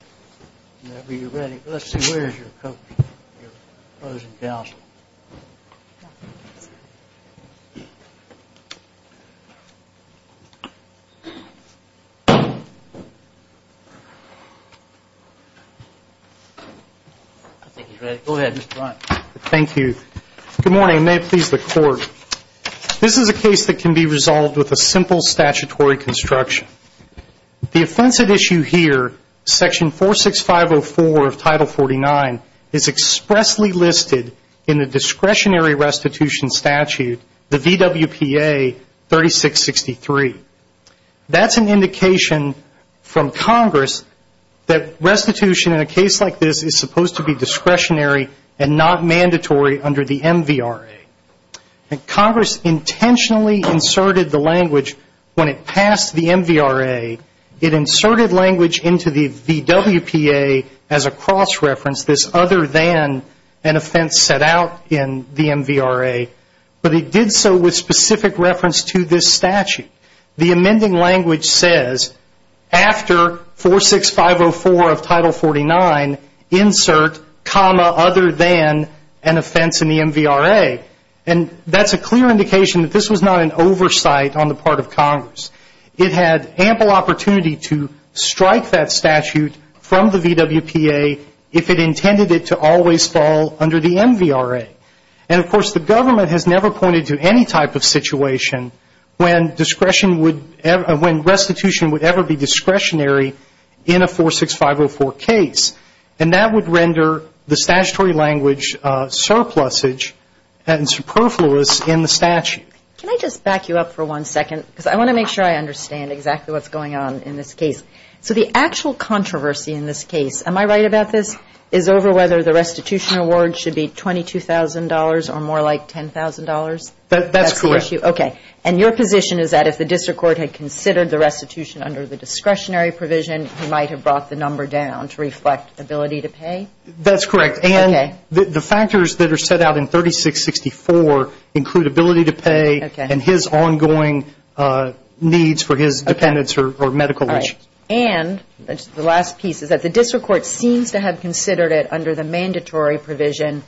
Good morning. May it please the court. This is a case that can be resolved with a simple discretionary restitution statute, the VWPA 3663. That's an indication from Congress that restitution in a case like this is supposed to be discretionary and not mandatory under the MVRA. Congress intentionally inserted the language when it passed the MVRA, it inserted language into the VWPA as a cross reference, this other than an offense set out in the MVRA, but it did so with specific reference to this statute. The amending language says after 46504 of title 49, insert comma other than an offense in the MVRA. And that's a clear indication that this was not an oversight on the part of Congress. It had ample opportunity to strike that statute from the VWPA if it intended it to always fall under the MVRA. And of course the government has never pointed to any type of situation when restitution would ever be discretionary in a 46504 case. And that would render the statutory language surplusage and superfluous in the statute. Can I just back you up for one second? Because I want to make sure I understand exactly what's going on in this case. So the actual controversy in this case, am I right about this, is over whether the restitution award should be $22,000 or more like $10,000? That's correct. And your position is that if the district court had considered the restitution under the discretionary provision, he might have brought the number down to reflect ability to pay? That's correct. And the factors that are set out in 3664 include ability to pay and his ongoing needs for his dependents or medical needs. And the last piece is that the district court seems to have considered it under the mandatory provision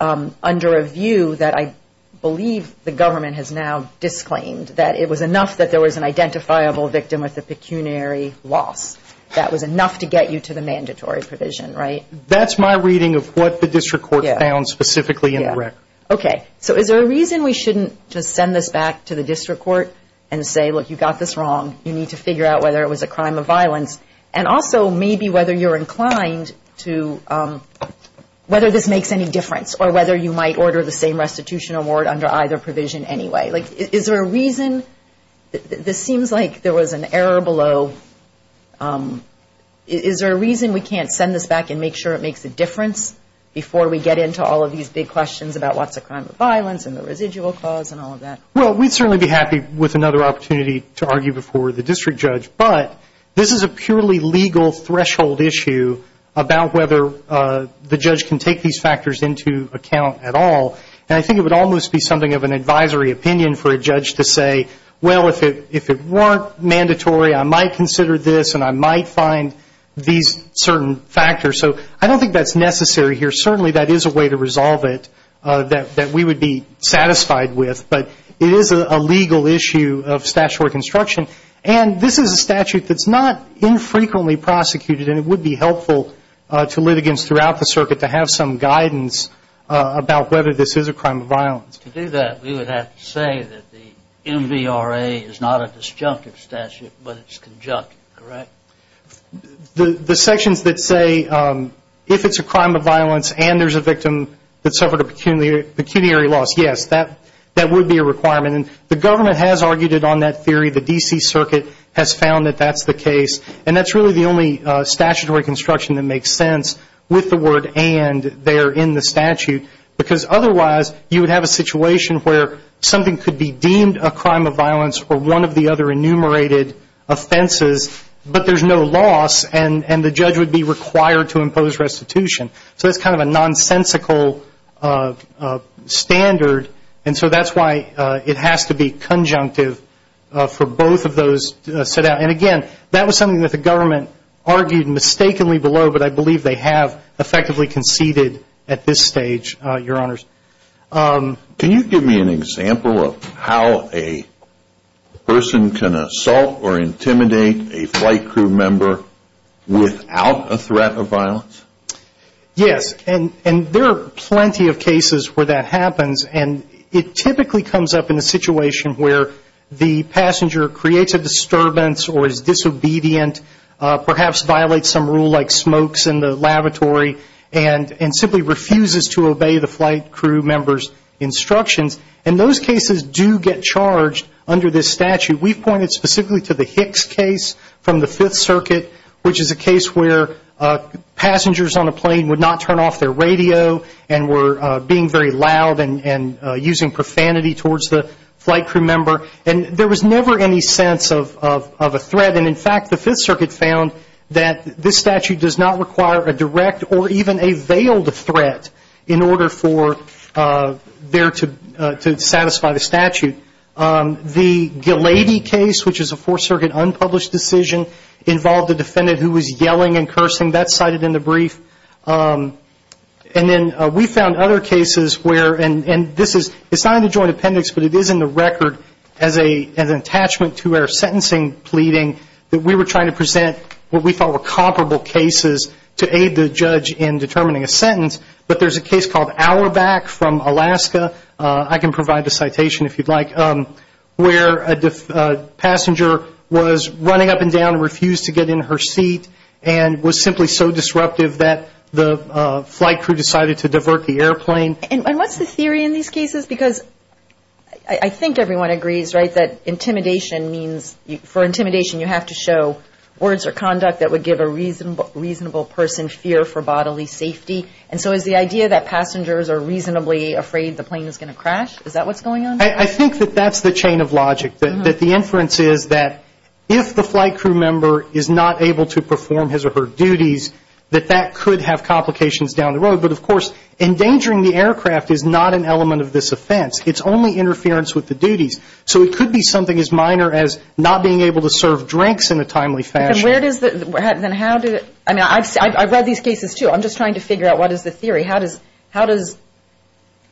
under a view that I believe the government has now disclaimed that it was enough that there was an identifiable victim with a pecuniary loss. That was enough to get you to the mandatory provision, right? That's my reading of what the district court found specifically in the record. Okay. So is there a reason we shouldn't just send this back to the district court and say, look, you got this wrong. You need to figure out whether it was a crime of violence. And also maybe whether you're inclined to, whether this makes any difference or whether you might order the same restitution award under either provision anyway. Is there a reason, this seems like there was an error below, is there a reason we can't send this back and make sure it makes a difference before we get into all of these big questions about what's a crime of violence and the residual cause and all of that? Well, we'd certainly be happy with another opportunity to argue before the district judge. But this is a purely legal threshold issue about whether the judge can take these factors into account at all. And I think it would almost be something of an advisory opinion for a judge to say, well, if it weren't mandatory, I might consider this and I might find these certain factors. So I don't think that's necessary here. Certainly that is a way to resolve it that we would be satisfied with. But it is a legal issue of statutory construction. And this is a statute that's not infrequently prosecuted. And it would be helpful to litigants throughout the circuit to have some guidance about whether this is a crime of violence. To do that, we would have to say that the MVRA is not a disjunctive statute, but it's conjunctive, correct? The sections that say if it's a crime of violence and there's a victim that suffered a pecuniary loss, yes, that would be a requirement. And the government has argued it on that theory. The D.C. Circuit has found that that's the case. And that's really the only statutory construction that makes sense with the word and there in the statute. Because otherwise, you would have a situation where something could be deemed a crime of violence or one of the other enumerated offenses, but there's no loss and the judge would be required to impose restitution. So it's kind of a nonsensical standard. And so that's why it has to be conjunctive for both of those set out. And, again, that was something that the government argued mistakenly below, but I believe they have effectively conceded at this stage, Your Honors. Can you give me an example of how a person can assault or intimidate a flight crew member without a threat of violence? Yes, and there are plenty of cases where that happens. And it typically comes up in a situation where the passenger creates a disturbance or is disobedient, perhaps violates some rule like smokes in the lavatory and simply refuses to obey the flight crew member's instructions. And those cases do get charged under this statute. We've pointed specifically to the Hicks case from the Fifth Circuit, which is a case where passengers on a plane would not turn off their radio and were being very loud and using profanity towards the flight crew member. And there was never any sense of a threat. And, in fact, the Fifth Circuit found that this statute does not require a direct or even a veiled threat in order for there to satisfy the statute. The Ghilardi case, which is a Fourth Circuit unpublished decision, involved a defendant who was yelling and cursing. That's cited in the brief. And then we found other cases where, and this is not in the Joint Appendix, but it is in the record as an attachment to our sentencing pleading, that we were trying to present what we thought were comparable cases to aid the judge in determining a sentence. But there's a case called Auerbach from Alaska, I can provide the citation if you'd like, where a passenger was running up and down and refused to get in her seat and was simply so disruptive that the flight crew decided to divert the airplane. And what's the theory in these cases? Because I think everyone agrees, right, that intimidation means, for intimidation, you have to show words or conduct that would give a reasonable person fear for bodily safety. And so is the idea that passengers are reasonably afraid the plane is going to crash, is that what's going on? I think that that's the chain of logic, that the inference is that if the flight crew member is not able to perform his or her duties, that that could have complications down the road. But, of course, endangering the aircraft is not an element of this offense. It's only interference with the duties. So it could be something as minor as not being able to serve drinks in a timely fashion. Then where does the ‑‑ I mean, I've read these cases, too. I'm just trying to figure out what is the theory. How does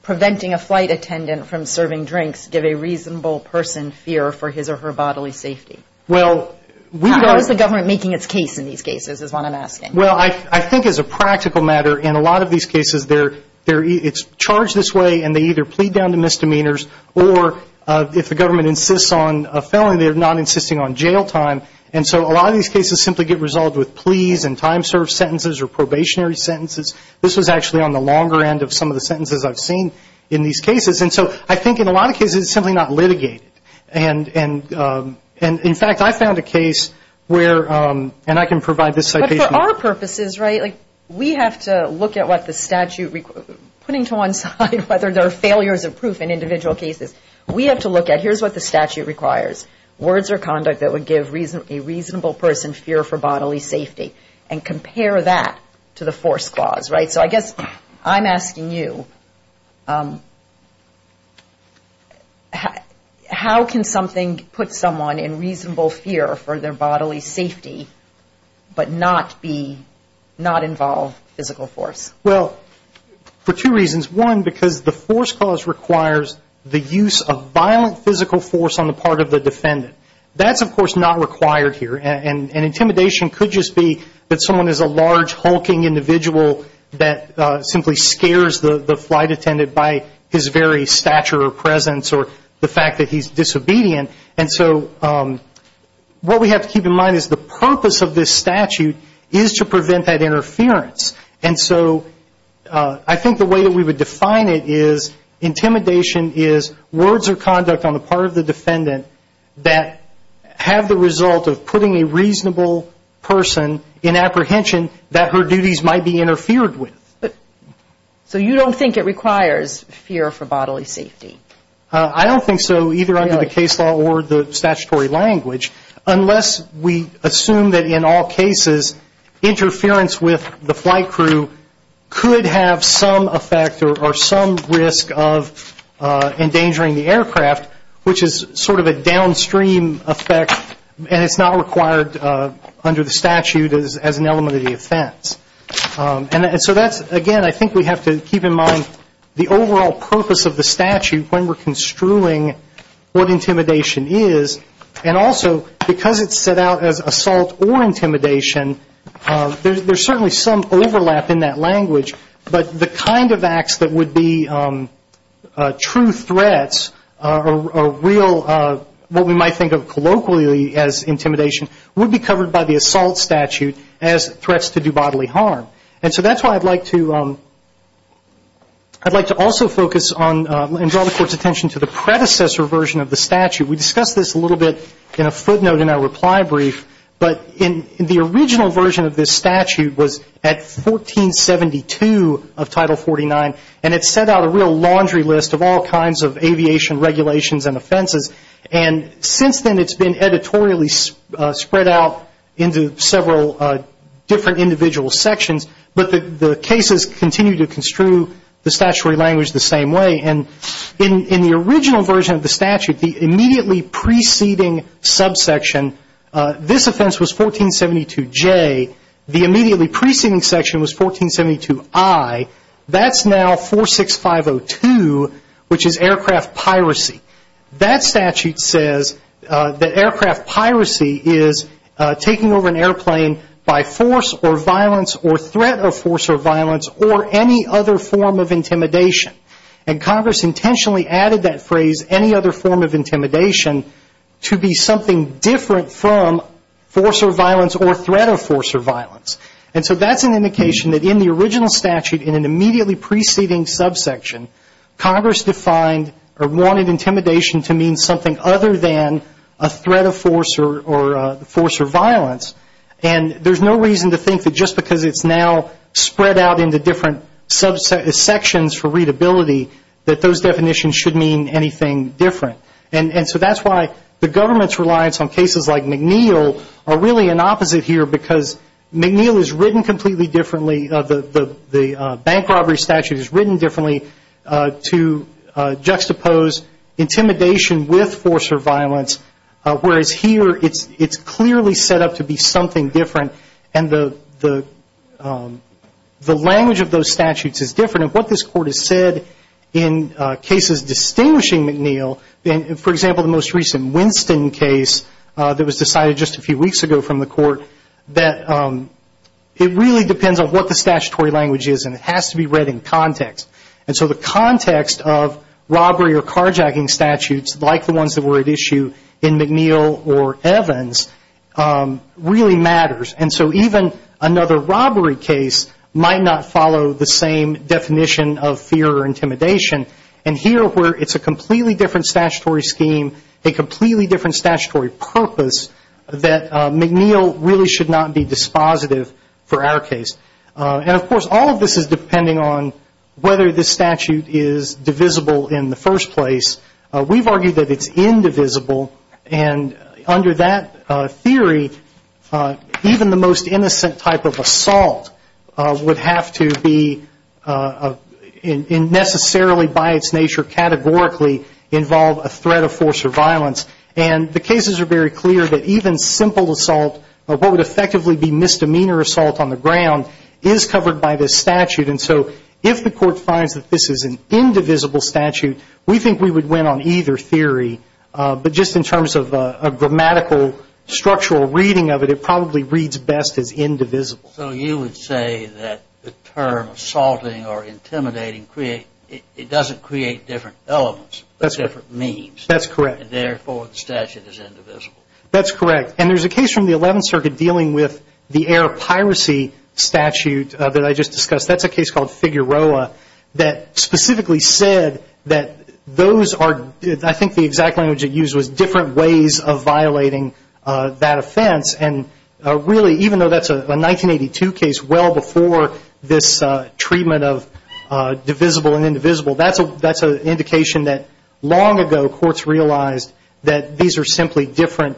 preventing a flight attendant from serving drinks give a reasonable person fear for his or her bodily safety? Well, we don't ‑‑ How is the government making its case in these cases is what I'm asking. Well, I think as a practical matter, in a lot of these cases, it's charged this way and they either plead down to misdemeanors or if the government insists on a felony, they're not insisting on jail time. And so a lot of these cases simply get resolved with pleas and time served sentences or probationary sentences. This was actually on the longer end of some of the sentences I've seen in these cases. And so I think in a lot of cases it's simply not litigated. And, in fact, I found a case where, and I can provide this citation. For our purposes, right, we have to look at what the statute requires. Putting to one side whether there are failures of proof in individual cases, we have to look at here's what the statute requires. Words or conduct that would give a reasonable person fear for bodily safety and compare that to the force clause, right? So I guess I'm asking you, how can something put someone in reasonable fear for their bodily safety but not involve physical force? Well, for two reasons. One, because the force clause requires the use of violent physical force on the part of the defendant. That's, of course, not required here. And intimidation could just be that someone is a large, hulking individual that simply scares the flight attendant by his very stature or presence or the fact that he's disobedient. And so what we have to keep in mind is the purpose of this statute is to prevent that interference. And so I think the way that we would define it is intimidation is words or conduct on the part of the defendant that have the result of putting a reasonable person in apprehension that her duties might be interfered with. So you don't think it requires fear for bodily safety? I don't think so, either under the case law or the statutory language, unless we assume that in all cases interference with the flight crew could have some effect or some risk of endangering the aircraft, which is sort of a downstream effect, and it's not required under the statute as an element of the offense. And so that's, again, I think we have to keep in mind the overall purpose of the statute when we're construing what intimidation is. And also, because it's set out as assault or intimidation, there's certainly some overlap in that language, but the kind of acts that would be true threats or real what we might think of colloquially as intimidation would be covered by the assault statute as threats to do bodily harm. And so that's why I'd like to also focus on and draw the Court's attention to the predecessor version of the statute. We discussed this a little bit in a footnote in our reply brief, but the original version of this statute was at 1472 of Title 49, and it set out a real laundry list of all kinds of aviation regulations and offenses. And since then, it's been editorially spread out into several different individual sections, but the cases continue to construe the statutory language the same way. And in the original version of the statute, the immediately preceding subsection, this offense was 1472J. The immediately preceding section was 1472I. That's now 46502, which is aircraft piracy. That statute says that aircraft piracy is taking over an airplane by force or violence or threat of force or violence or any other form of intimidation. And Congress intentionally added that phrase, any other form of intimidation, to be something different from force or violence or threat of force or violence. And so that's an indication that in the original statute in an immediately preceding subsection, Congress defined or wanted intimidation to mean something other than a threat of force or violence. And there's no reason to think that just because it's now spread out into different sections for readability that those definitions should mean anything different. And so that's why the government's reliance on cases like McNeil are really an opposite here, because McNeil is written completely differently. The bank robbery statute is written differently to juxtapose intimidation with force or violence, whereas here it's clearly set up to be something different. And the language of those statutes is different. And what this Court has said in cases distinguishing McNeil, for example, the most recent Winston case that was decided just a few weeks ago from the Court, that it really depends on what the statutory language is and it has to be read in context. And so the context of robbery or carjacking statutes, like the ones that were at issue in McNeil or Evans, really matters. And so even another robbery case might not follow the same definition of fear or intimidation. And here where it's a completely different statutory scheme, a completely different statutory purpose, that McNeil really should not be dispositive for our case. And, of course, all of this is depending on whether this statute is divisible in the first place. We've argued that it's indivisible. And under that theory, even the most innocent type of assault would have to be necessarily by its nature, categorically involve a threat of force or violence. And the cases are very clear that even simple assault, what would effectively be misdemeanor assault on the ground, is covered by this statute. And so if the Court finds that this is an indivisible statute, we think we would win on either theory. But just in terms of a grammatical structural reading of it, it probably reads best as indivisible. So you would say that the term assaulting or intimidating, it doesn't create different elements, different means. That's correct. And, therefore, the statute is indivisible. That's correct. And there's a case from the 11th Circuit dealing with the air piracy statute that I just discussed. That's a case called Figueroa that specifically said that those are, I think the exact language it used was, different ways of violating that offense. And, really, even though that's a 1982 case, well before this treatment of divisible and indivisible, that's an indication that long ago courts realized that these are simply different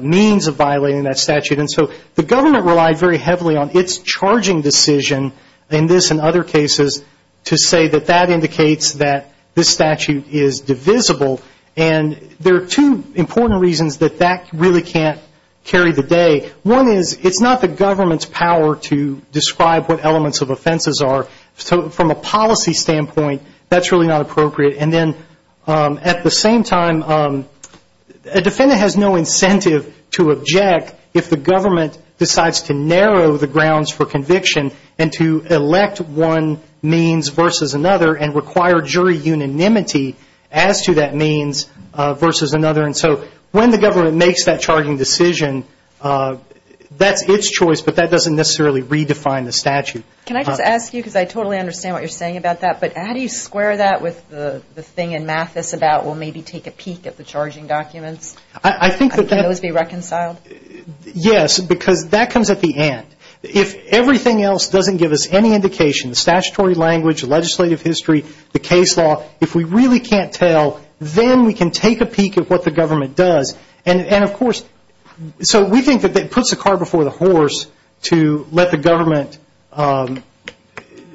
means of violating that statute. And so the government relied very heavily on its charging decision, in this and other cases, to say that that indicates that this statute is divisible. And there are two important reasons that that really can't carry the day. One is it's not the government's power to describe what elements of offenses are. So from a policy standpoint, that's really not appropriate. And then, at the same time, a defendant has no incentive to object if the government decides to narrow the grounds for conviction and to elect one means versus another and require jury unanimity as to that means versus another. And so when the government makes that charging decision, that's its choice, but that doesn't necessarily redefine the statute. Can I just ask you, because I totally understand what you're saying about that, but how do you square that with the thing in Mathis about we'll maybe take a peek at the charging documents? Can those be reconciled? Yes, because that comes at the end. If everything else doesn't give us any indication, the statutory language, the legislative history, the case law, if we really can't tell, then we can take a peek at what the government does. And, of course, so we think that it puts the car before the horse to let the government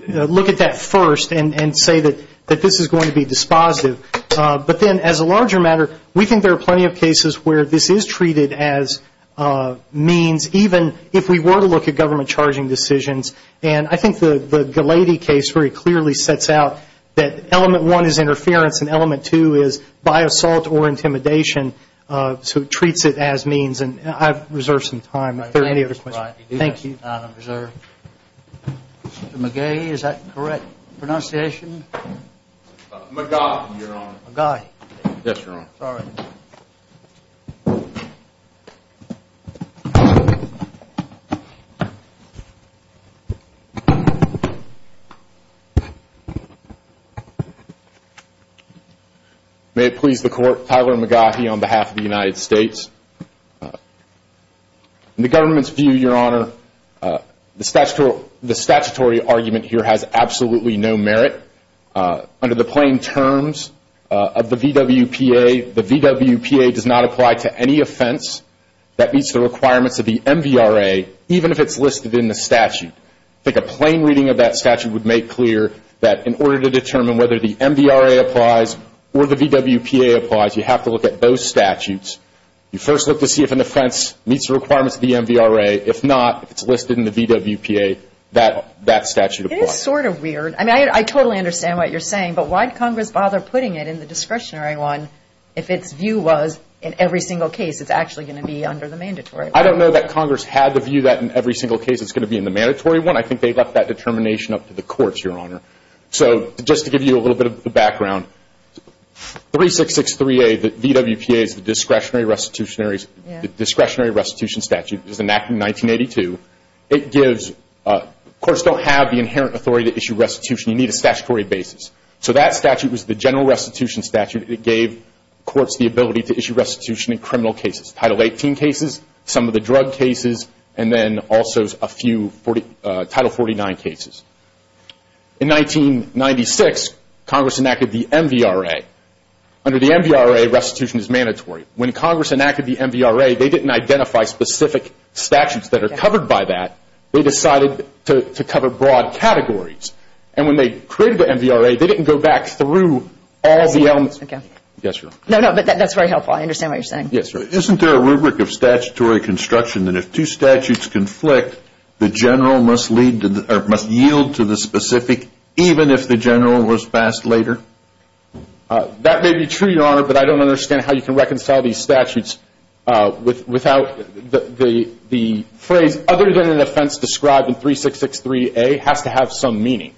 look at that first and say that this is going to be dispositive. But then, as a larger matter, we think there are plenty of cases where this is treated as means, even if we were to look at government charging decisions. And I think the Ghilardi case very clearly sets out that element one is interference and element two is by assault or intimidation, so it treats it as means. And I reserve some time if there are any other questions. Thank you. Mr. McGay, is that correct pronunciation? McGuy, Your Honor. McGuy. Yes, Your Honor. Sorry. May it please the Court, Tyler McGuy on behalf of the United States. In the government's view, Your Honor, the statutory argument here has absolutely no merit. Under the plain terms of the VWPA, the VWPA does not apply to any offense that meets the requirements of the MVRA, even if it's listed in the statute. I think a plain reading of that statute would make clear that in order to determine whether the MVRA applies or the VWPA applies, you have to look at those statutes. You first look to see if an offense meets the requirements of the MVRA. If not, if it's listed in the VWPA, that statute applies. It is sort of weird. I mean, I totally understand what you're saying, but why did Congress bother putting it in the discretionary one if its view was in every single case it's actually going to be under the mandatory law? I don't know that Congress had the view that in every single case it's going to be in the mandatory one. I think they left that determination up to the courts, Your Honor. So just to give you a little bit of the background, 3663A, the VWPA is the discretionary restitution statute. It was enacted in 1982. Courts don't have the inherent authority to issue restitution. You need a statutory basis. So that statute was the general restitution statute. And it gave courts the ability to issue restitution in criminal cases, Title 18 cases, some of the drug cases, and then also a few Title 49 cases. In 1996, Congress enacted the MVRA. Under the MVRA, restitution is mandatory. When Congress enacted the MVRA, they didn't identify specific statutes that are covered by that. They decided to cover broad categories. And when they created the MVRA, they didn't go back through all the elements. Yes, Your Honor. No, no, but that's very helpful. I understand what you're saying. Yes, Your Honor. Isn't there a rubric of statutory construction that if two statutes conflict, the general must yield to the specific even if the general was passed later? That may be true, Your Honor, but I don't understand how you can reconcile these statutes without the phrase other than an offense described in 3663A has to have some meaning.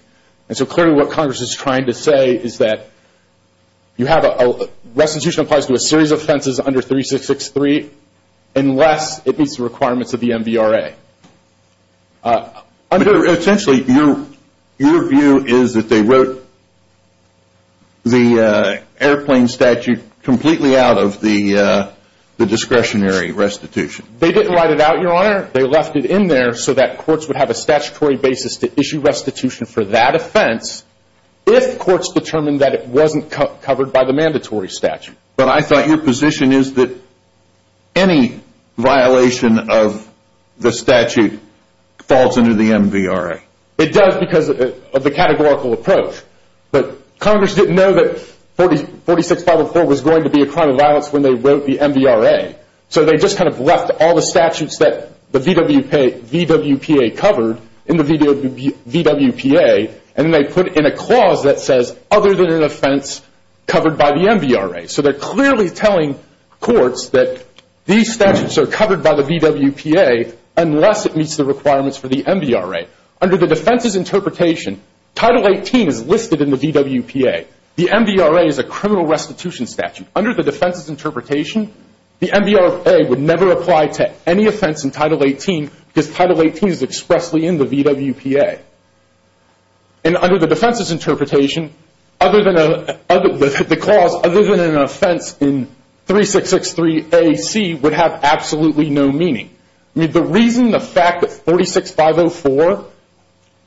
And so clearly what Congress is trying to say is that restitution applies to a series of offenses under 3663 unless it meets the requirements of the MVRA. Essentially, your view is that they wrote the airplane statute completely out of the discretionary restitution. They left it in there so that courts would have a statutory basis to issue restitution for that offense if courts determined that it wasn't covered by the mandatory statute. But I thought your position is that any violation of the statute falls under the MVRA. It does because of the categorical approach. But Congress didn't know that 46504 was going to be a crime of violence when they wrote the MVRA. So they just kind of left all the statutes that the VWPA covered in the VWPA, and then they put in a clause that says other than an offense covered by the MVRA. So they're clearly telling courts that these statutes are covered by the VWPA unless it meets the requirements for the MVRA. Under the defense's interpretation, Title 18 is listed in the VWPA. The MVRA is a criminal restitution statute. Under the defense's interpretation, the MVRA would never apply to any offense in Title 18 because Title 18 is expressly in the VWPA. And under the defense's interpretation, the clause other than an offense in 3663AC would have absolutely no meaning. The reason the fact that 46504,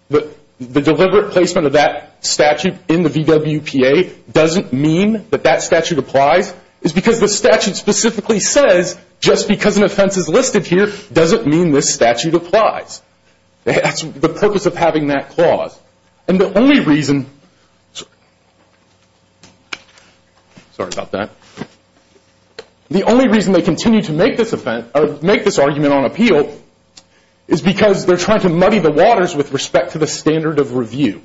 the deliberate placement of that statute in the VWPA doesn't mean that that statute applies is because the statute specifically says just because an offense is listed here doesn't mean this statute applies. That's the purpose of having that clause. And the only reason they continue to make this argument on appeal is because they're trying to muddy the waters with respect to the standard of review.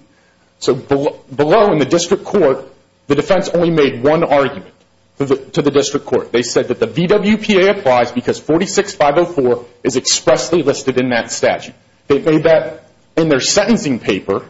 So below in the district court, the defense only made one argument to the district court. They said that the VWPA applies because 46504 is expressly listed in that statute. They made that in their sentencing paper.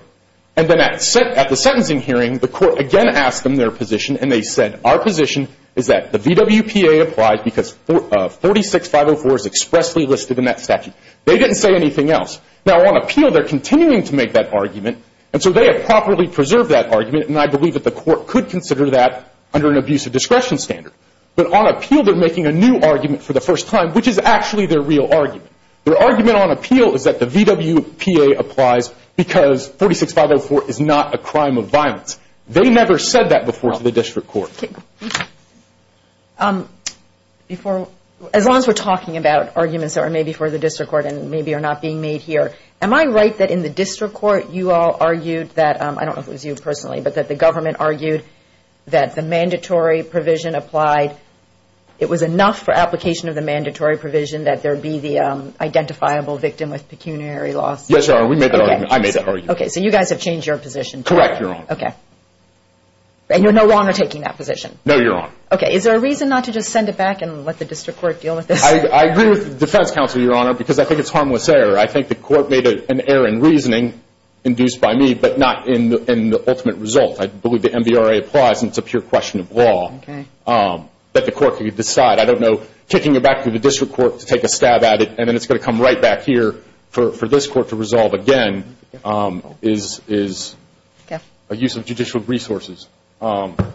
And then at the sentencing hearing, the court again asked them their position, and they said our position is that the VWPA applies because 46504 is expressly listed in that statute. They didn't say anything else. Now, on appeal, they're continuing to make that argument, and so they have properly preserved that argument, and I believe that the court could consider that under an abuse of discretion standard. But on appeal, they're making a new argument for the first time, which is actually their real argument. Their argument on appeal is that the VWPA applies because 46504 is not a crime of violence. They never said that before to the district court. As long as we're talking about arguments that are made before the district court and maybe are not being made here, am I right that in the district court you all argued that, I don't know if it was you personally, but that the government argued that the mandatory provision applied, it was enough for application of the mandatory provision that there be the identifiable victim with pecuniary loss? Yes, Your Honor, we made that argument. I made that argument. Okay, so you guys have changed your position. Correct, Your Honor. And you're no longer taking that position? No, Your Honor. Okay, is there a reason not to just send it back and let the district court deal with this? I agree with the defense counsel, Your Honor, because I think it's harmless error. I think the court made an error in reasoning induced by me, but not in the ultimate result. I believe the MVRA applies, and it's a pure question of law that the court could decide. I don't know, kicking it back to the district court to take a stab at it, and then it's going to come right back here for this court to resolve again, is a use of judicial resources. But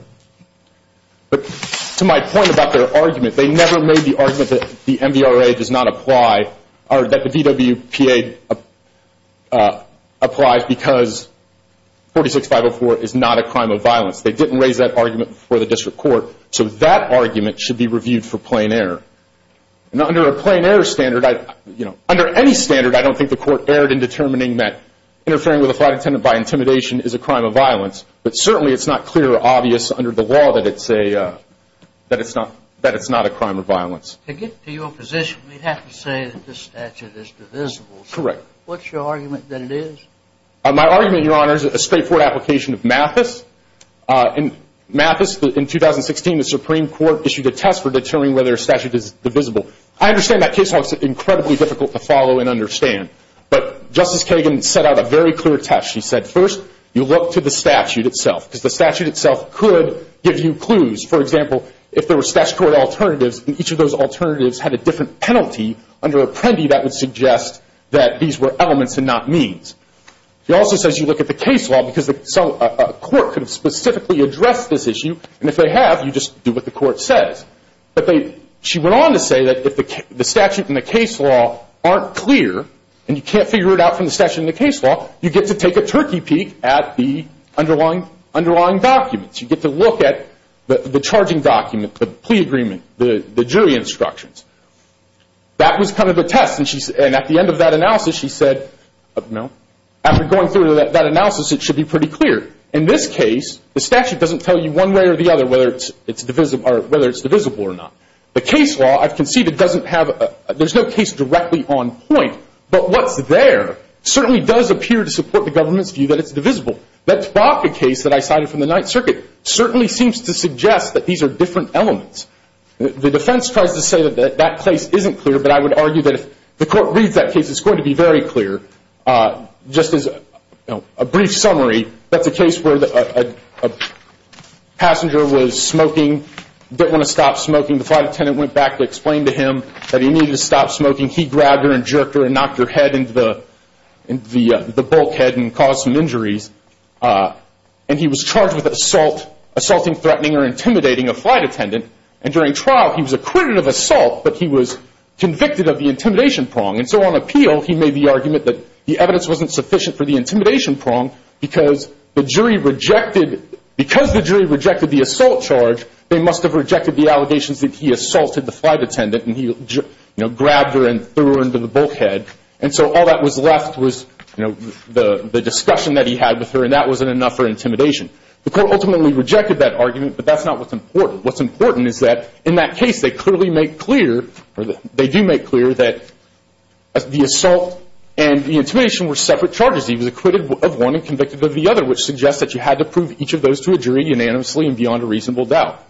to my point about their argument, they never made the argument that the MVRA does not apply, or that the VWPA applies because 46504 is not a crime of violence. They didn't raise that argument before the district court, so that argument should be reviewed for plain error. And under a plain error standard, you know, under any standard, I don't think the court erred in determining that interfering with a flight attendant by intimidation is a crime of violence. But certainly it's not clear or obvious under the law that it's not a crime of violence. To get to your position, we'd have to say that this statute is divisible. Correct. What's your argument that it is? My argument, Your Honor, is a straightforward application of Mathis. In Mathis, in 2016, the Supreme Court issued a test for determining whether a statute is divisible. I understand that case law is incredibly difficult to follow and understand. But Justice Kagan set out a very clear test. She said, first, you look to the statute itself, because the statute itself could give you clues. For example, if there were statute court alternatives, and each of those alternatives had a different penalty under Apprendi, that would suggest that these were elements and not means. She also says you look at the case law, because a court could have specifically addressed this issue, and if they have, you just do what the court says. But she went on to say that if the statute and the case law aren't clear, and you can't figure it out from the statute and the case law, you get to take a turkey peek at the underlying documents. You get to look at the charging document, the plea agreement, the jury instructions. That was kind of the test. And at the end of that analysis, she said, you know, after going through that analysis, it should be pretty clear. In this case, the statute doesn't tell you one way or the other whether it's divisible or not. The case law, I've conceded, doesn't have a – there's no case directly on point. But what's there certainly does appear to support the government's view that it's divisible. That Spock case that I cited from the Ninth Circuit certainly seems to suggest that these are different elements. The defense tries to say that that case isn't clear, but I would argue that if the court reads that case, it's going to be very clear. Just as a brief summary, that's a case where a passenger was smoking, didn't want to stop smoking. The flight attendant went back to explain to him that he needed to stop smoking. He grabbed her and jerked her and knocked her head into the bulkhead and caused some injuries. And he was charged with assault, assaulting, threatening, or intimidating a flight attendant. And during trial, he was acquitted of assault, but he was convicted of the intimidation prong. And so on appeal, he made the argument that the evidence wasn't sufficient for the intimidation prong because the jury rejected – because the jury rejected the assault charge, they must have rejected the allegations that he assaulted the flight attendant and he grabbed her and threw her into the bulkhead. And so all that was left was, you know, the discussion that he had with her, and that wasn't enough for intimidation. The court ultimately rejected that argument, but that's not what's important. What's important is that in that case, they clearly make clear – or they do make clear that the assault and the intimidation were separate charges. He was acquitted of one and convicted of the other, which suggests that you had to prove each of those to a jury unanimously and beyond a reasonable doubt.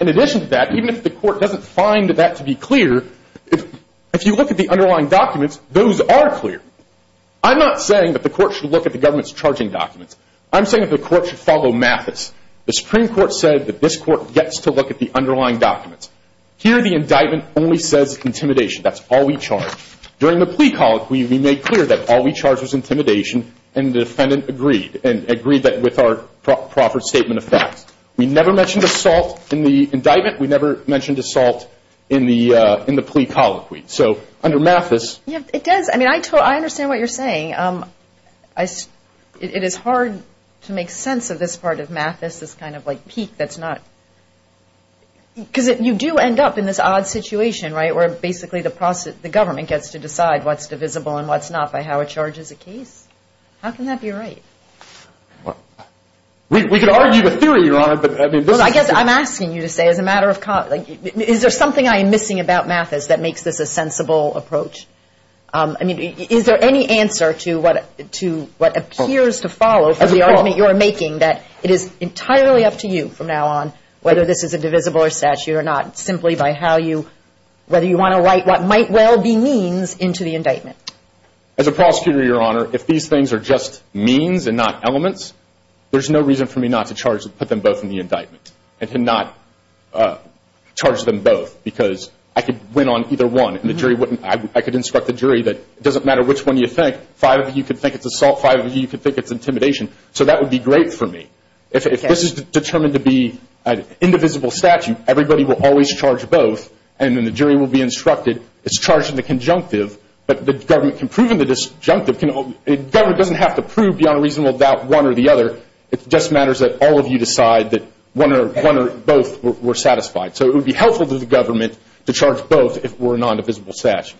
In addition to that, even if the court doesn't find that to be clear, if you look at the underlying documents, those are clear. I'm not saying that the court should look at the government's charging documents. I'm saying that the court should follow Mathis. The Supreme Court said that this court gets to look at the underlying documents. Here, the indictment only says intimidation. That's all we charge. During the plea call, we made clear that all we charge was intimidation, and the defendant agreed, and agreed with our proffered statement of facts. We never mentioned assault in the indictment. We never mentioned assault in the plea colloquy. So under Mathis – Yeah, it does. I mean, I understand what you're saying. It is hard to make sense of this part of Mathis, this kind of like peak that's not – because you do end up in this odd situation, right, where basically the government gets to decide what's divisible and what's not by how it charges a case. How can that be right? We could argue the theory, Your Honor, but I mean – Well, I guess I'm asking you to say as a matter of – is there something I am missing about Mathis that makes this a sensible approach? I mean, is there any answer to what appears to follow for the argument you are making that it is entirely up to you from now on whether this is a divisible or statute or not, simply by how you – whether you want to write what might well be means into the indictment. As a prosecutor, Your Honor, if these things are just means and not elements, there's no reason for me not to put them both in the indictment and to not charge them both because I could win on either one. I could instruct the jury that it doesn't matter which one you think. Five of you could think it's assault. Five of you could think it's intimidation. So that would be great for me. If this is determined to be an indivisible statute, everybody will always charge both, and then the jury will be instructed it's charged in the conjunctive, but the government can prove in the disjunctive. The government doesn't have to prove beyond a reasonable doubt one or the other. It just matters that all of you decide that one or both were satisfied. So it would be helpful to the government to charge both if it were a non-divisible statute.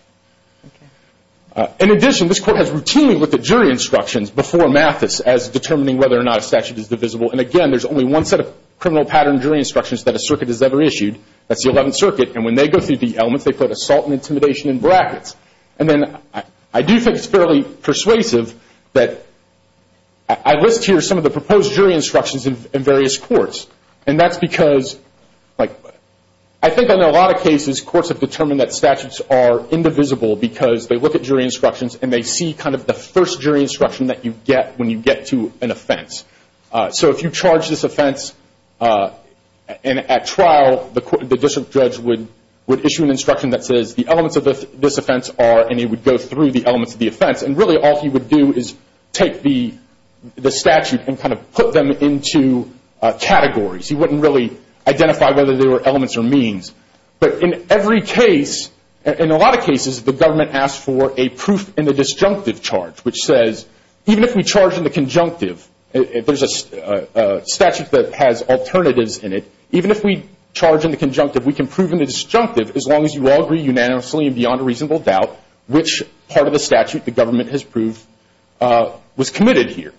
In addition, this Court has routinely looked at jury instructions before Mathis as determining whether or not a statute is divisible, and again, there's only one set of criminal pattern jury instructions that a circuit has ever issued. That's the Eleventh Circuit, and when they go through the elements, they put assault and intimidation in brackets. I do think it's fairly persuasive that I list here some of the proposed jury instructions in various courts, and that's because I think in a lot of cases, courts have determined that statutes are indivisible because they look at jury instructions and they see kind of the first jury instruction that you get when you get to an offense. So if you charge this offense at trial, the district judge would issue an instruction that says, the elements of this offense are, and he would go through the elements of the offense, and really all he would do is take the statute and kind of put them into categories. He wouldn't really identify whether they were elements or means. But in every case, in a lot of cases, the government asks for a proof in the disjunctive charge, which says even if we charge in the conjunctive, there's a statute that has alternatives in it, even if we charge in the conjunctive, we can prove in the disjunctive, as long as you all agree unanimously and beyond a reasonable doubt, which part of the statute the government has proved was committed here.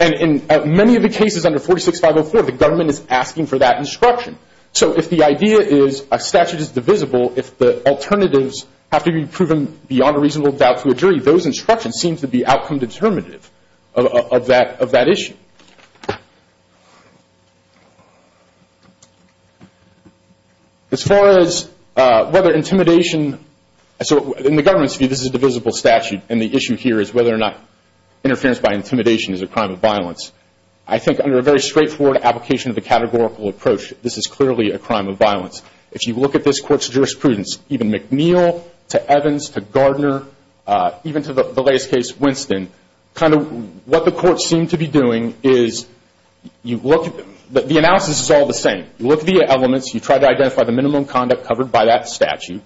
And in many of the cases under 46504, the government is asking for that instruction. So if the idea is a statute is divisible, if the alternatives have to be proven beyond a reasonable doubt to a jury, those instructions seem to be outcome determinative of that issue. As far as whether intimidation, so in the government's view, this is a divisible statute, and the issue here is whether or not interference by intimidation is a crime of violence. I think under a very straightforward application of the categorical approach, this is clearly a crime of violence. If you look at this court's jurisprudence, even McNeil to Evans to Gardner, even to the latest case, Winston, kind of what the courts seem to be doing is you look at them. The analysis is all the same. You look at the elements. You try to identify the minimum conduct covered by that statute,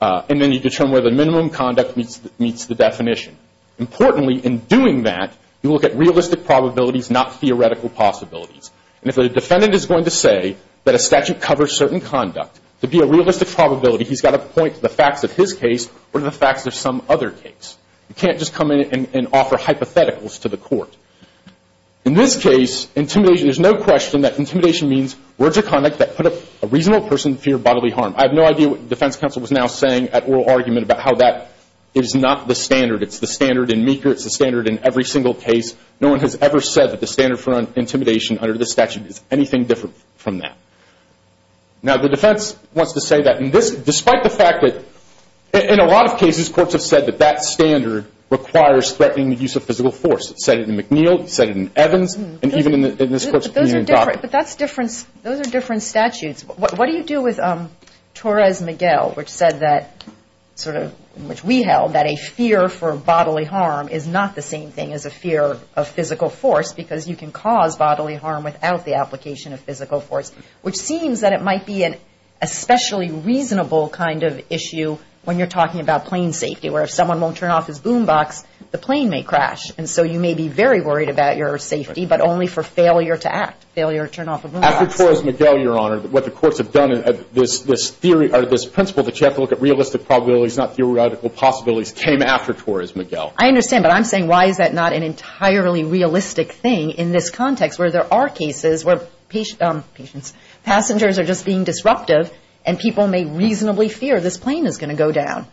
and then you determine whether the minimum conduct meets the definition. Importantly, in doing that, you look at realistic probabilities, not theoretical possibilities. And if a defendant is going to say that a statute covers certain conduct, to be a realistic probability, he's got to point to the facts of his case or the facts of some other case. You can't just come in and offer hypotheticals to the court. In this case, intimidation, there's no question that intimidation means words of conduct that put a reasonable person in fear of bodily harm. I have no idea what the defense counsel was now saying at oral argument about how that is not the standard. It's the standard in Meeker. It's the standard in every single case. No one has ever said that the standard for intimidation under this statute is anything different from that. Now, the defense wants to say that, despite the fact that in a lot of cases, courts have said that that standard requires threatening the use of physical force. It said it in McNeil. It said it in Evans. And even in this court's opinion. But those are different. But that's different. Those are different statutes. What do you do with Torres-Miguel, which said that sort of, which we held, that a fear for bodily harm is not the same thing as a fear of physical force because you can cause bodily harm without the application of physical force, which seems that it might be an especially reasonable kind of issue when you're talking about plane safety, where if someone won't turn off his boombox, the plane may crash. And so you may be very worried about your safety, but only for failure to act, failure to turn off a boombox. After Torres-Miguel, Your Honor, what the courts have done, this theory or this principle that you have to look at realistic probabilities, not theoretical possibilities, came after Torres-Miguel. I understand. But I'm saying why is that not an entirely realistic thing in this context where there are cases where passengers are just being disruptive and people may reasonably fear this plane is going to go down.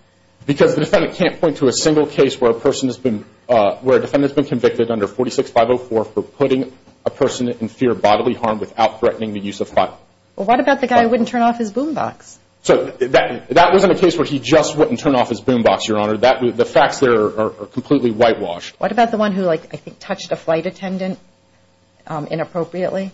Because the defendant can't point to a single case where a person has been, where a defendant has been convicted under 46-504 for putting a person in fear of bodily harm without threatening the use of fire. Well, what about the guy who wouldn't turn off his boombox? So that wasn't a case where he just wouldn't turn off his boombox, Your Honor. The facts there are completely whitewashed. What about the one who, I think, touched a flight attendant inappropriately?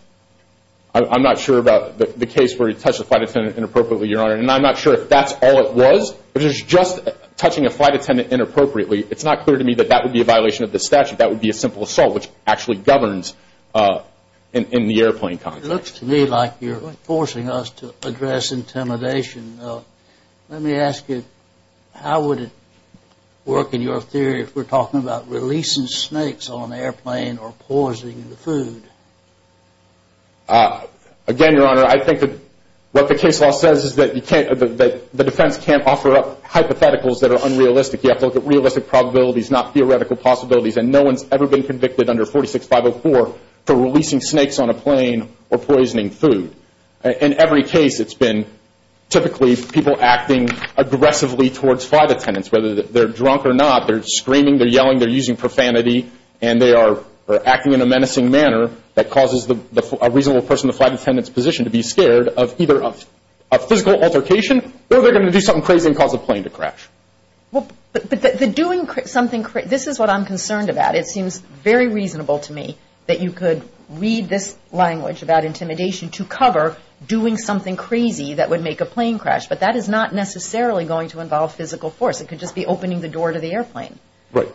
I'm not sure about the case where he touched a flight attendant inappropriately, Your Honor, and I'm not sure if that's all it was. If he was just touching a flight attendant inappropriately, it's not clear to me that that would be a violation of the statute. That would be a simple assault, which actually governs in the airplane context. It looks to me like you're forcing us to address intimidation. Let me ask you, how would it work in your theory if we're talking about releasing snakes on an airplane or poisoning the food? Again, Your Honor, I think that what the case law says is that the defense can't offer up hypotheticals that are unrealistic. You have to look at realistic probabilities, not theoretical possibilities, and no one's ever been convicted under 46-504 for releasing snakes on a plane or poisoning food. In every case, it's been typically people acting aggressively towards flight attendants, whether they're drunk or not, they're screaming, they're yelling, they're using profanity, and they are acting in a menacing manner that causes a reasonable person in the flight attendant's position to be scared of either a physical altercation or they're going to do something crazy and cause a plane to crash. But the doing something crazy, this is what I'm concerned about. It seems very reasonable to me that you could read this language about intimidation to cover doing something crazy that would make a plane crash, but that is not necessarily going to involve physical force. It could just be opening the door to the airplane.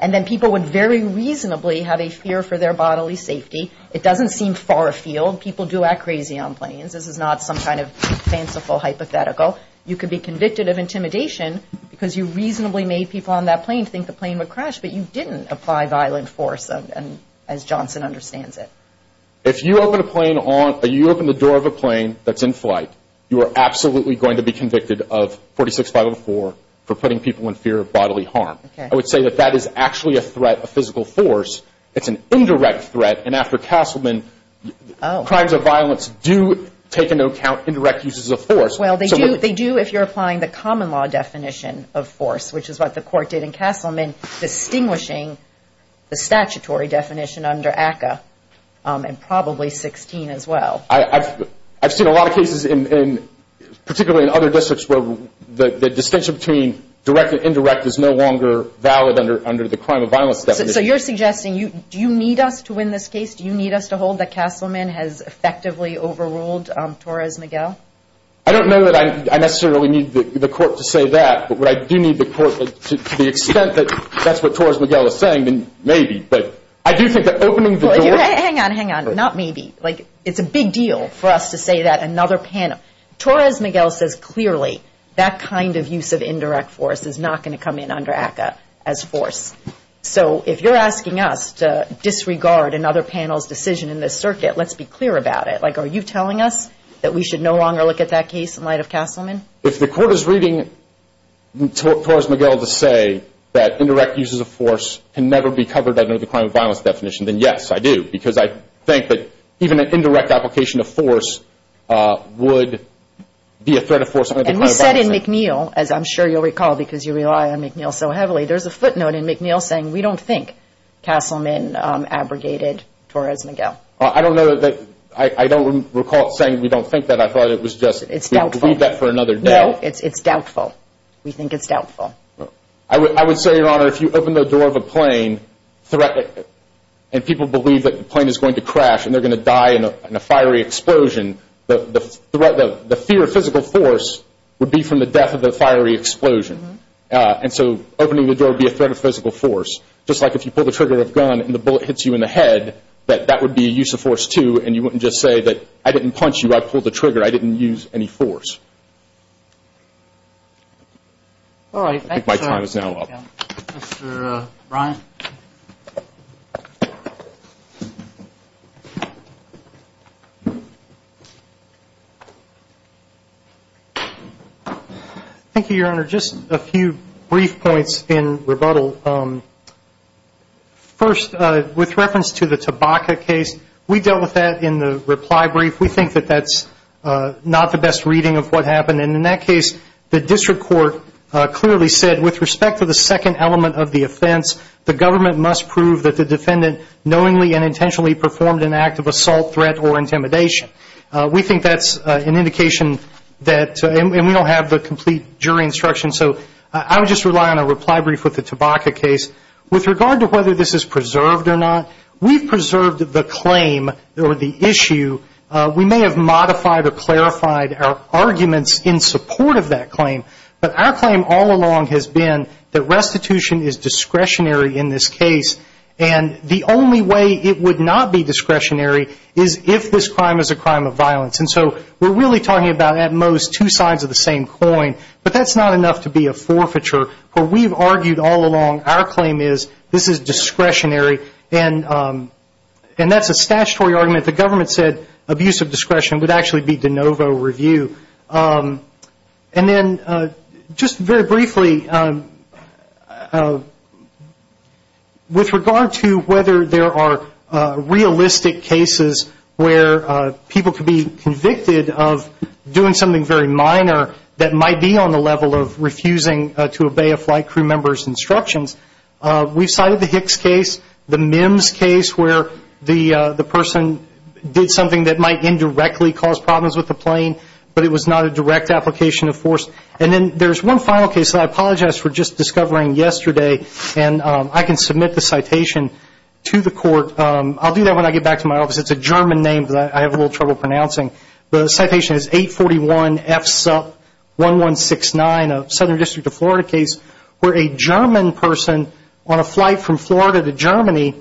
And then people would very reasonably have a fear for their bodily safety. It doesn't seem far afield. People do act crazy on planes. This is not some kind of fanciful hypothetical. You could be convicted of intimidation because you reasonably made people on that plane think the plane would crash, but you didn't apply violent force as Johnson understands it. If you open the door of a plane that's in flight, you are absolutely going to be convicted of 46504 for putting people in fear of bodily harm. I would say that that is actually a threat, a physical force. It's an indirect threat. And after Castleman, crimes of violence do take into account indirect uses of force. Well, they do if you're applying the common law definition of force, which is what the court did in Castleman, distinguishing the statutory definition under ACCA, and probably 16 as well. I've seen a lot of cases, particularly in other districts, where the distinction between direct and indirect is no longer valid under the crime of violence definition. So you're suggesting, do you need us to win this case? Do you need us to hold that Castleman has effectively overruled Torres Miguel? I don't know that I necessarily need the court to say that, but what I do need the court to the extent that that's what Torres Miguel is saying, then maybe. But I do think that opening the door. Hang on, hang on. Not maybe. It's a big deal for us to say that another panel. Torres Miguel says clearly that kind of use of indirect force is not going to come in under ACCA as force. So if you're asking us to disregard another panel's decision in this circuit, let's be clear about it. Are you telling us that we should no longer look at that case in light of Castleman? If the court is reading Torres Miguel to say that indirect use of force can never be covered under the crime of violence definition, then yes, I do, because I think that even an indirect application of force would be a threat of force. And we said in McNeil, as I'm sure you'll recall because you rely on McNeil so heavily, there's a footnote in McNeil saying we don't think Castleman abrogated Torres Miguel. I don't know that I don't recall it saying we don't think that. It's doubtful. No, it's doubtful. We think it's doubtful. I would say, Your Honor, if you open the door of a plane and people believe that the plane is going to crash and they're going to die in a fiery explosion, the fear of physical force would be from the death of the fiery explosion. And so opening the door would be a threat of physical force. Just like if you pull the trigger of a gun and the bullet hits you in the head, that would be a use of force, too, and you wouldn't just say that I didn't punch you, I pulled the trigger, I didn't use any force. I think my time is now up. Mr. Ryan. Thank you, Your Honor. Just a few brief points in rebuttal. First, with reference to the tobacco case, we dealt with that in the reply brief. We think that that's not the best reading of what happened, and in that case, the district court clearly said with respect to the second element of the offense, the government must prove that the defendant knowingly and intentionally performed an act of assault, threat, or intimidation. We think that's an indication that, and we don't have the complete jury instruction, so I would just rely on a reply brief with the tobacco case. With regard to whether this is preserved or not, we've preserved the claim or the issue. We may have modified or clarified our arguments in support of that claim, but our claim all along has been that restitution is discretionary in this case, and the only way it would not be discretionary is if this crime is a crime of violence. And so we're really talking about, at most, two sides of the same coin, but that's not enough to be a forfeiture. What we've argued all along, our claim is this is discretionary, and that's a statutory argument. The government said abuse of discretion would actually be de novo review. And then just very briefly, with regard to whether there are realistic cases where people could be convicted of doing something very minor that might be on the level of refusing to obey a flight crew member's instructions, we've cited the Hicks case, the Mims case, where the person did something that might indirectly cause problems with the plane, but it was not a direct application of force. And then there's one final case that I apologize for just discovering yesterday, and I can submit the citation to the court. I'll do that when I get back to my office. It's a German name that I have a little trouble pronouncing. The citation is 841 F. Supp. 1169, Southern District of Florida case, where a German person on a flight from Florida to Germany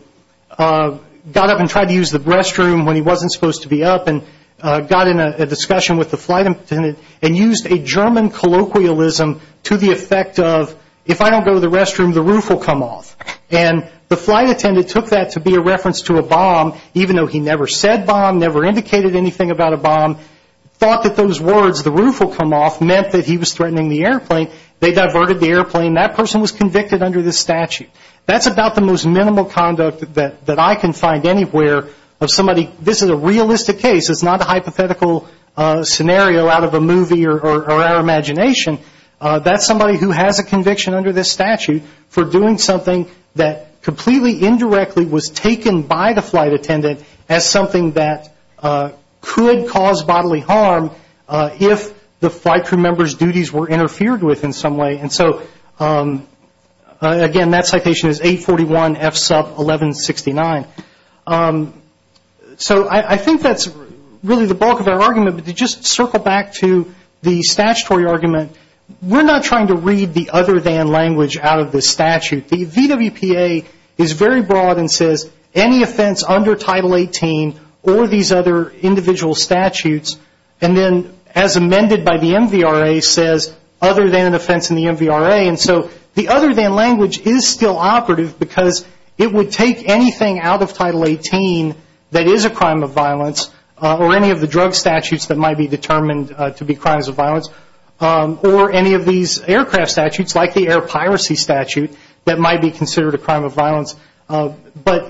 got up and tried to use the restroom when he wasn't supposed to be up and got in a discussion with the flight attendant and used a German colloquialism to the effect of, if I don't go to the restroom, the roof will come off. And the flight attendant took that to be a reference to a bomb, even though he never said bomb, never indicated anything about a bomb, thought that those words, the roof will come off, meant that he was threatening the airplane. They diverted the airplane. That person was convicted under this statute. That's about the most minimal conduct that I can find anywhere of somebody. This is a realistic case. It's not a hypothetical scenario out of a movie or our imagination. That's somebody who has a conviction under this statute for doing something that completely indirectly was taken by the flight attendant as something that could cause bodily harm if the flight crew member's duties were interfered with in some way. And so, again, that citation is 841 F. Supp. 1169. So I think that's really the bulk of our argument. But to just circle back to the statutory argument, we're not trying to read the other than language out of this statute. The VWPA is very broad and says any offense under Title 18 or these other individual statutes, and then, as amended by the MVRA, says other than an offense in the MVRA. And so the other than language is still operative because it would take anything out of Title 18 that is a crime of violence or any of the drug statutes that might be determined to be crimes of violence or any of these aircraft statutes like the air piracy statute that might be considered a crime of violence. But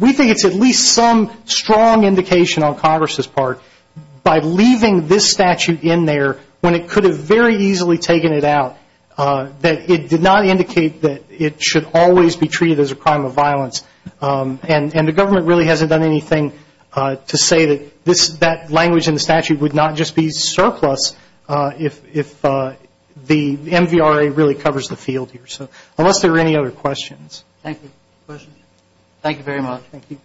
we think it's at least some strong indication on Congress's part by leaving this statute in there when it could have very easily taken it out that it did not indicate that it should always be treated as a crime of violence. And the government really hasn't done anything to say that that language in the statute would not just be surplus if the MVRA really covers the field here. So unless there are any other questions. Thank you. Questions? Thank you very much. Thank you.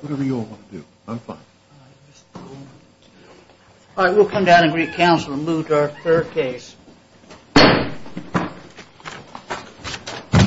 Whatever you all want to do. I'm fine. All right. We'll come down and greet counsel and move to our third case.